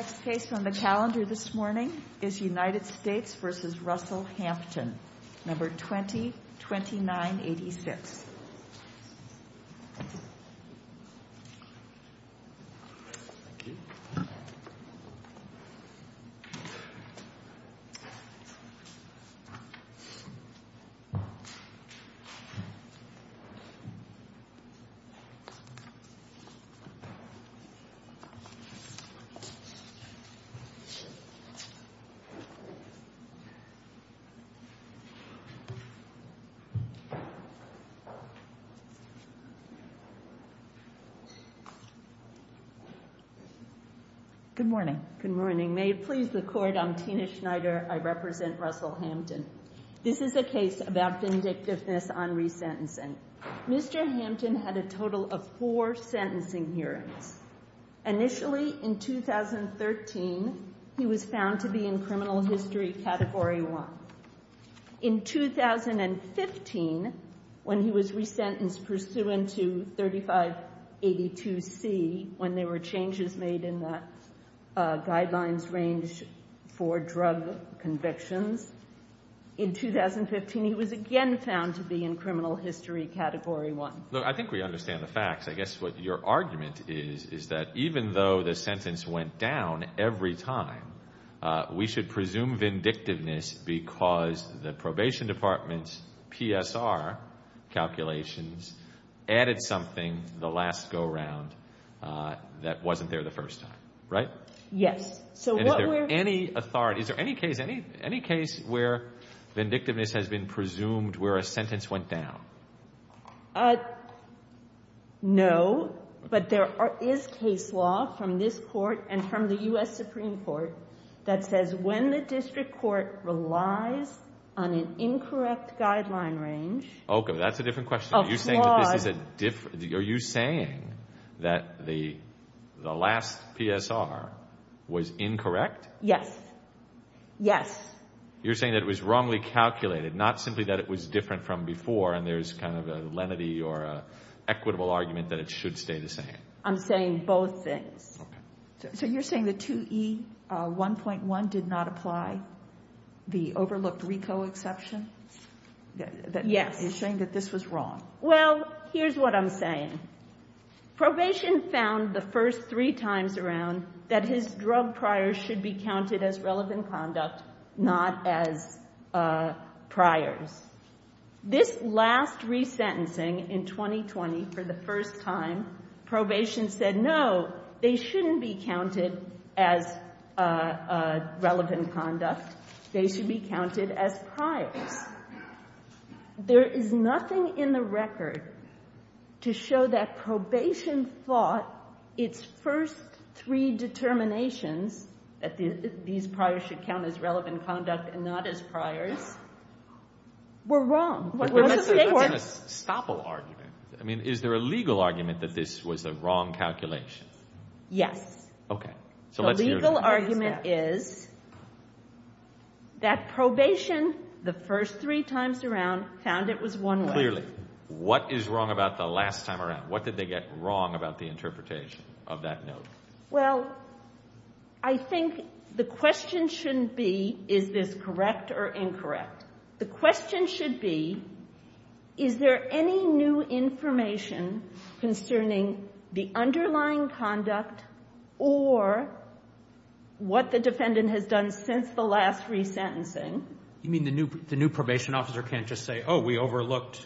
United States v. Russell Hampton, No. 202986 Good morning. Good morning. May it please the Court, I'm Tina Schneider. I represent Russell Hampton. This is a case about vindictiveness on resentencing. Mr. Hampton had a total of 13. He was found to be in criminal history Category 1. In 2015, when he was resentenced pursuant to 3582C, when there were changes made in the guidelines range for drug convictions, in 2015, he was again found to be in criminal history Category 1. Look, I think we understand the facts. I guess what your argument is, is that even though the sentence went down every time, we should presume vindictiveness because the probation department's PSR calculations added something the last go-round that wasn't there the first time, right? Yes. And is there any authority, is there any case, any case where vindictiveness has been presumed where a sentence went down? No, but there is case law from this Court and from the U.S. Supreme Court that says when the district court relies on an incorrect guideline range... Okay, that's a different question. Are you saying that this is a... are you saying that the last PSR was incorrect? Yes. Yes. You're saying that it was wrongly calculated, not simply that it was different from before and there's kind of a lenity or a equitable argument that it should stay the same? I'm saying both things. Okay. So you're saying the 2E 1.1 did not apply, the overlooked RICO exception? Yes. You're saying that this was wrong? Well, here's what I'm saying. Probation found the first three times around that his drug priors should be counted as relevant conduct, not as priors. This last resentencing in 2020 for the first time, probation said, no, they shouldn't be counted as relevant conduct. They should be counted as priors. There is nothing in the record to show that probation thought its first three determinations, that these priors should count as relevant conduct and not as priors, were wrong. But that's a stopple argument. I mean, is there a legal argument that this was a wrong calculation? Yes. Okay. The legal argument is that probation, the first three times around, found it was one way. Clearly. What is wrong about the last time around? What did they get wrong about the interpretation of that note? Well, I think the question shouldn't be, is this correct or incorrect? The question should be, is there any new information concerning the underlying conduct or what the defendant has done since the last resentencing? You mean the new probation officer can't just say, oh, we overlooked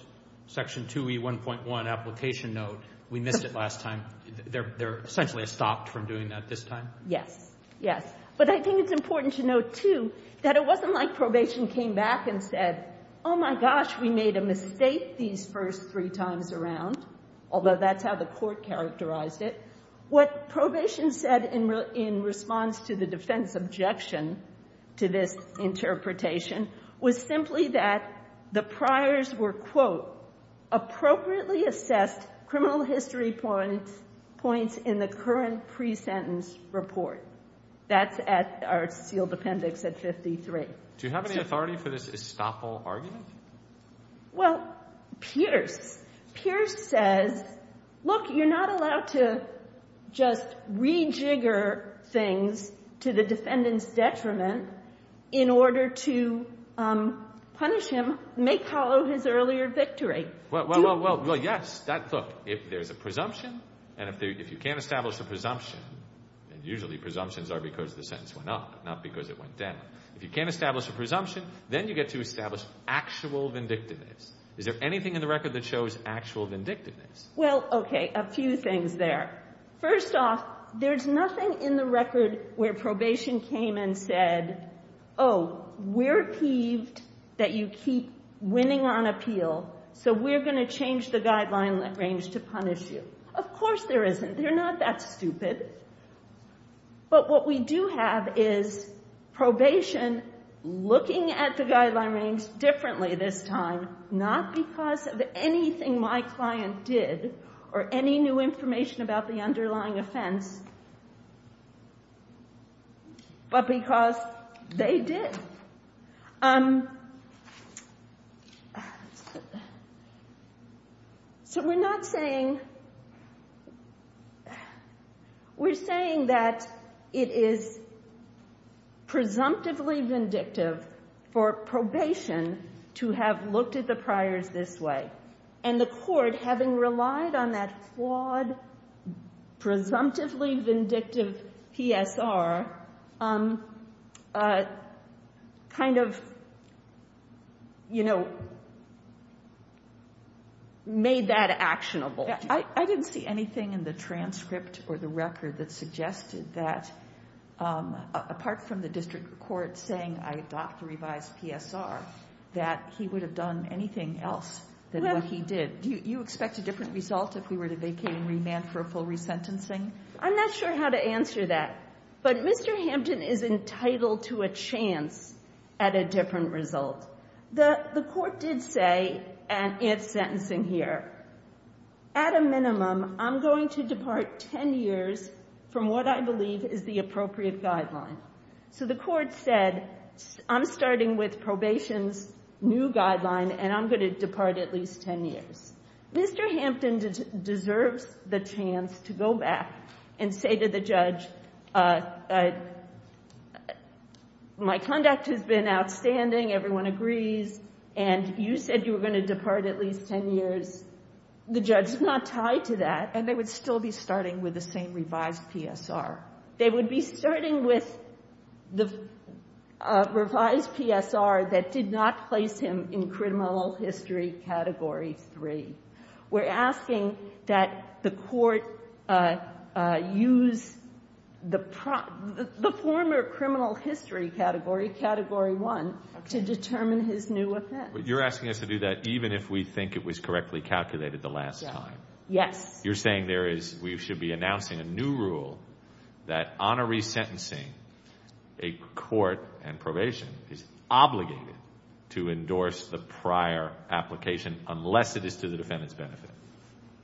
Section 2E1.1 application note. We missed it last time. They're essentially stopped from doing that this time? Yes. Yes. But I think it's important to note, too, that it wasn't like probation came back and said, oh, my gosh, we made a mistake these first three times around, although that's how the Court characterized it. What probation said in response to the defense objection to this interpretation was simply that the priors were, quote, appropriately assessed criminal history points in the current pre-sentence report. That's at our sealed appendix at 53. Do you have any authority for this estoppel argument? Well, Pierce. Pierce says, look, you're not allowed to just rejigger things to the defendant's detriment in order to punish him, make hollow his earlier victory. Well, yes. Look, if there's a presumption and if you can't establish a presumption, and usually presumptions are because the sentence went up, not because it went down. If you can't establish a presumption, then you get to establish actual vindictiveness. Is there anything in the record that shows actual vindictiveness? Well, okay, a few things there. First off, there's nothing in the record where probation came and said, oh, we're peeved that you keep winning on appeal, so we're going to change the guideline range to punish you. Of course there isn't. They're not that stupid. But what we do have is probation looking at the guideline range differently this time, not because of anything my client did or any new information about the underlying offense, but because they did. So we're not saying, we're saying that it is presumptively vindictive for probation to have looked at the priors this way, and the court, having relied on that flawed, presumptively vindictive PSR, kind of, you know, made that actionable. I didn't see anything in the transcript or the record that suggested that, apart from the district court saying, I adopt the revised PSR, that he would have done anything else than what he did. Do you expect a different result if we were to vacate and remand for a full resentencing? I'm not sure how to answer that. But Mr. Hampton is entitled to a chance at a different result. The court did say, and it's sentencing here, at a minimum, I'm going to depart 10 years from what I believe is the appropriate guideline. So the court said, I'm starting with probation's new guideline, and I'm going to depart at least 10 years. Mr. Hampton deserves the chance to go back and say to the judge, my conduct has been outstanding. Everyone agrees. And you said you were going to depart at least 10 years. The judge is not tied to that. And they would still be starting with the same revised PSR. They would be starting with the revised PSR that did not place him in criminal history category three. We're asking that the court use the former criminal history category, category one, to determine his new offense. But you're asking us to do that even if we think it was correctly calculated the last time. Yes. You're saying we should be announcing a new rule that honoree sentencing, a court and probation is obligated to endorse the prior application, unless it is to the defendant's benefit.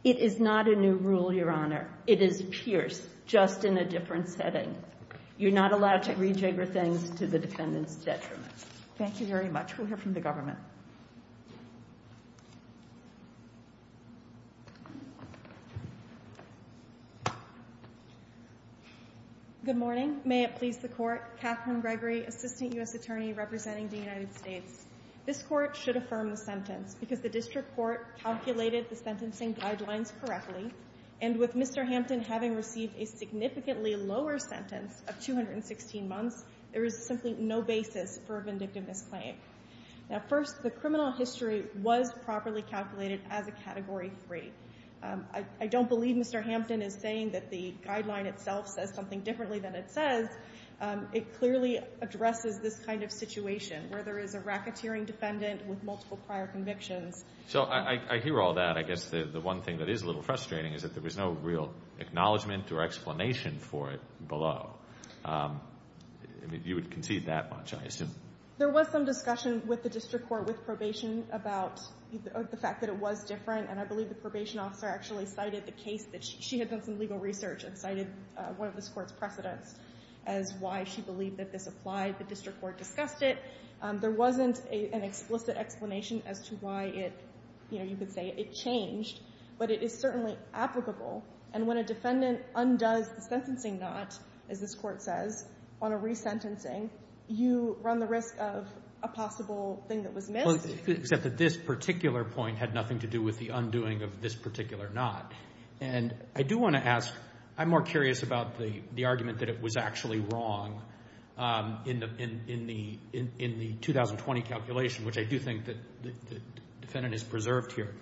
It is not a new rule, Your Honor. It is pierced, just in a different setting. You're not allowed to rejigger things to the defendant's detriment. Thank you very much. We'll hear from the government. Good morning. May it please the Court. Catherine Gregory, Assistant U.S. Attorney representing the United States. This court should affirm the sentence because the district court calculated the sentencing guidelines correctly. And with Mr. Hampton having received a significantly lower sentence of 216 months, there is simply no basis for a vindictive misclaim. Now first, the criminal history was properly calculated as a category three. I don't believe Mr. Hampton is saying that the guideline itself says something differently than it says. It clearly addresses this kind of situation, where there is a racketeering defendant with multiple prior convictions. So I hear all that. I guess the one thing that is a little frustrating is that there was no real acknowledgment or explanation for it below. You would concede that much, I assume. There was some discussion with the district court with probation about the fact that it was different. And I believe the probation officer actually cited the case that she had done some legal research and cited one of this court's precedents as why she believed that this applied. The district court discussed it. There wasn't an explicit explanation as to why you could say it changed. But it is certainly applicable. And when a defendant undoes the sentencing not, as this court says, on a resentencing, you run the risk of a possible thing that was missed. Except that this particular point had nothing to do with the undoing of this particular not. And I do want to ask, I'm more curious about the argument that it was actually wrong in the 2020 calculation, which I do think that the defendant has preserved here.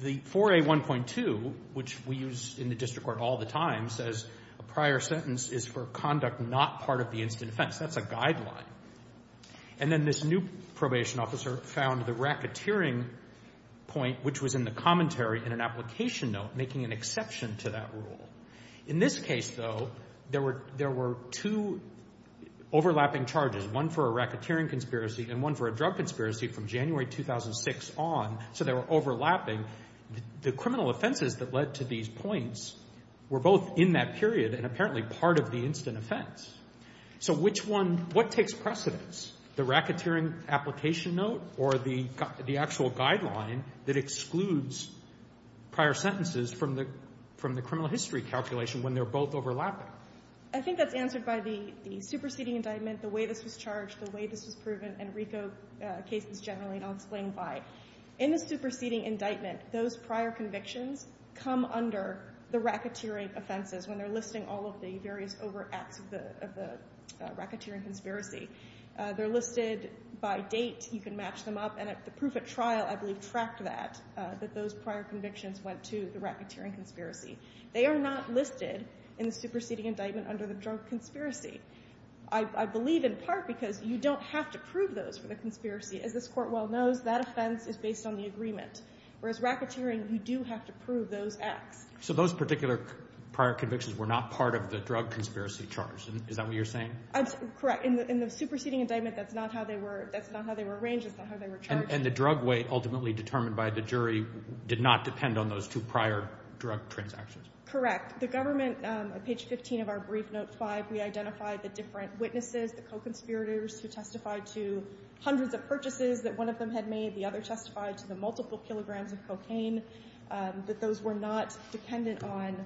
The 4A1.2, which we use in the district court all the time, says a prior sentence is for conduct not part of the instant offense. That's a guideline. And then this new probation officer found the racketeering point, which was in the commentary in an application note, making an exception to that rule. In this case, though, there were two overlapping charges, one for a racketeering conspiracy and one for a drug conspiracy from January 2006 on. So they were overlapping. The criminal offenses that led to these points were both in that period and apparently part of the instant offense. So which one, what takes precedence, the racketeering application note or the actual guideline that excludes prior sentences from the criminal history calculation when they're both overlapping? I think that's answered by the superseding indictment, the way this was charged, the way this was proven, and RICO cases generally, and I'll explain why. In the superseding indictment, those prior convictions come under the racketeering offenses when they're listing all of the various overacts of the racketeering conspiracy. They're listed by date. You can match them up. And the proof at trial, I believe, tracked that, that those prior convictions went to the racketeering conspiracy. They are not listed in the superseding indictment under the drug conspiracy. I believe in part because you don't have to prove those for the conspiracy. As this court well knows, that offense is based on the agreement. Whereas racketeering, you do have to prove those acts. So those particular prior convictions were not part of the drug conspiracy charge. Is that what you're saying? Correct. In the superseding indictment, that's not how they were arranged. That's not how they were charged. And the drug weight ultimately determined by the jury did not depend on those two prior drug transactions. Correct. The government, on page 15 of our brief, note five, we identified the different witnesses, the co-conspirators who testified to hundreds of purchases that one of them had made. The other testified to the multiple kilograms of cocaine. That those were not dependent on,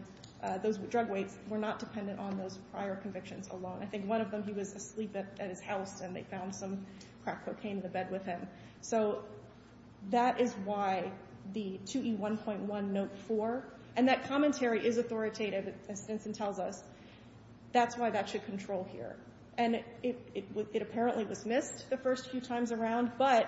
those drug weights were not dependent on those prior convictions alone. I think one of them, he was asleep at his house and they found some crack cocaine in the bed with him. So that is why the 2E1.1, note four. And that commentary is authoritative, as Stinson tells us. That's why that should control here. And it apparently was missed the first few times around. But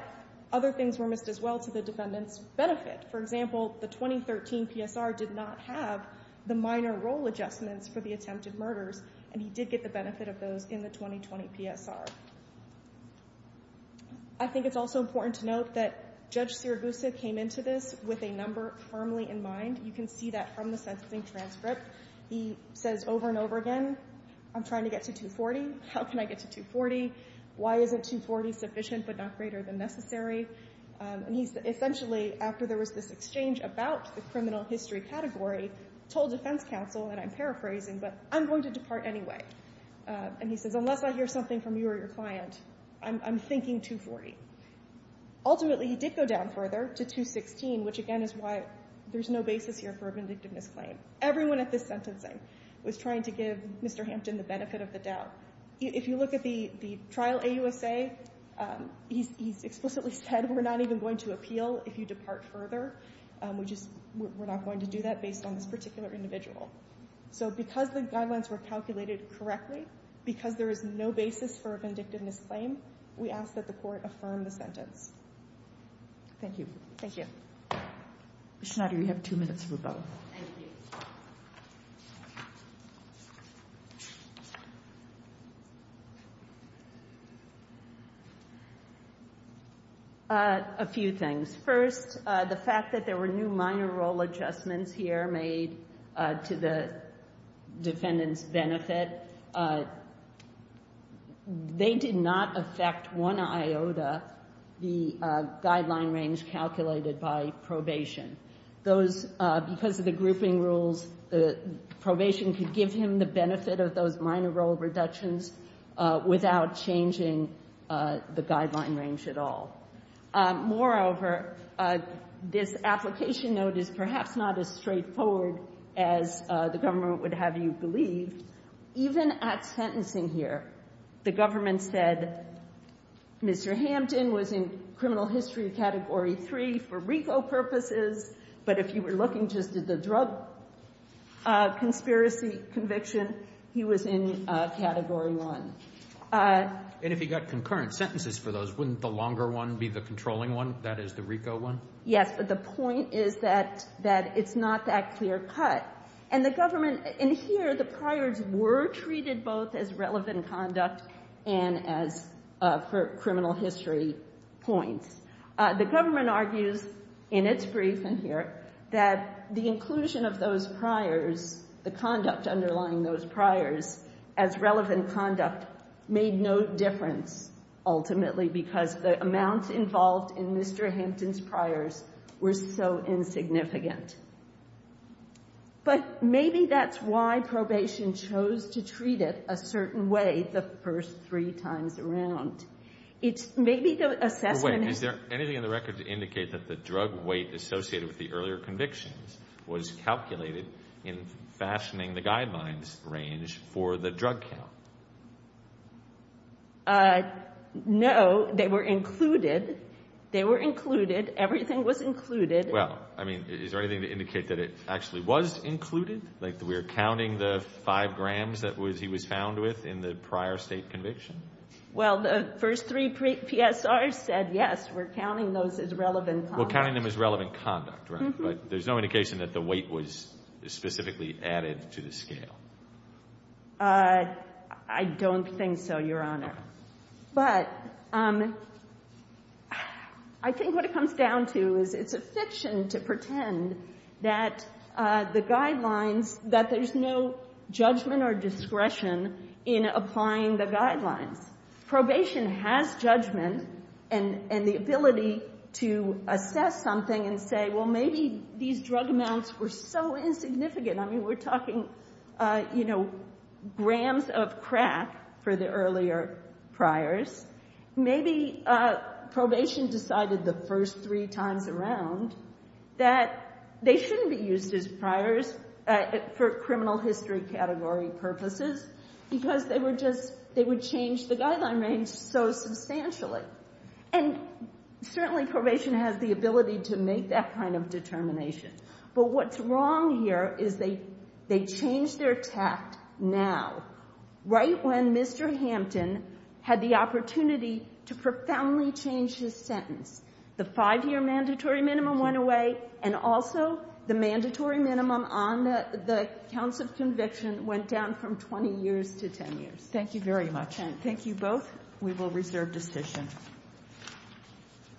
other things were missed as well to the defendant's benefit. For example, the 2013 PSR did not have the minor role adjustments for the attempted murders. And he did get the benefit of those in the 2020 PSR. I think it's also important to note that Judge Siragusa came into this with a number firmly in mind. You can see that from the sentencing transcript. He says over and over again, I'm trying to get to 240. How can I get to 240? Why isn't 240 sufficient but not greater than necessary? And he essentially, after there was this exchange about the criminal history category, told defense counsel, and I'm paraphrasing, but I'm going to depart anyway. And he says, unless I hear something from you or your client, I'm thinking 240. Ultimately, he did go down further to 216, which again is why there's no basis here for a vindictiveness claim. Everyone at this sentencing was trying to give Mr. Hampton the benefit of the doubt. If you look at the trial AUSA, he's explicitly said, we're not even going to appeal if you depart further. We're not going to do that based on this particular individual. So because the guidelines were calculated correctly, because there is no basis for a vindictiveness claim, we ask that the court affirm the sentence. Thank you. Thank you. Ms. Schnatter, you have two minutes for both. Thank you. A few things. First, the fact that there were new minor role adjustments here made to the defendant's benefit, they did not affect one iota, the guideline range calculated by probation. Those, because of the grouping rules, the probation could give him the benefit of those minor role reductions without changing the guideline range at all. Moreover, this application note is perhaps not as straightforward as the government would have you believe. Even at sentencing here, the government said, Mr. Hampton was in criminal history category three for RICO purposes, but if you were looking just at the drug conspiracy conviction, he was in category one. And if he got concurrent sentences for those, wouldn't the longer one be the controlling one, that is the RICO one? Yes, but the point is that it's not that clear cut. And the government, in here, the priors were treated both as relevant conduct and as for criminal history points. The government argues in its brief in here that the inclusion of those priors, the conduct underlying those priors as relevant conduct made no difference ultimately because the amounts involved in Mr. Hampton's priors were so insignificant. But maybe that's why probation chose to treat it a certain way the first three times around. It's maybe the assessment is. Wait, is there anything in the record to indicate that the drug weight associated with the earlier convictions was calculated in fashioning the guidelines range for the drug count? No, they were included, they were included. Everything was included. Well, I mean, is there anything to indicate that it actually was included? Like we're counting the five grams that he was found with in the prior state conviction? Well, the first three PSRs said yes, we're counting those as relevant conduct. We're counting them as relevant conduct, right? But there's no indication that the weight was specifically added to the scale. I don't think so, Your Honor. But I think what it comes down to is it's a fiction to pretend that the guidelines, that there's no judgment or discretion in applying the guidelines. Probation has judgment and the ability to assess something and say, well, maybe these drug amounts were so insignificant. I mean, we're talking grams of crack for the earlier priors. Maybe probation decided the first three times around that they shouldn't be used as priors for criminal history category purposes because they would change the guideline range so substantially. And certainly probation has the ability to make that kind of determination. But what's wrong here is they changed their tact now, right when Mr. Hampton had the opportunity to profoundly change his sentence. The five-year mandatory minimum went away and also the mandatory minimum on the counts of conviction went down from 20 years to 10 years. Thank you very much and thank you both. We will reserve decision.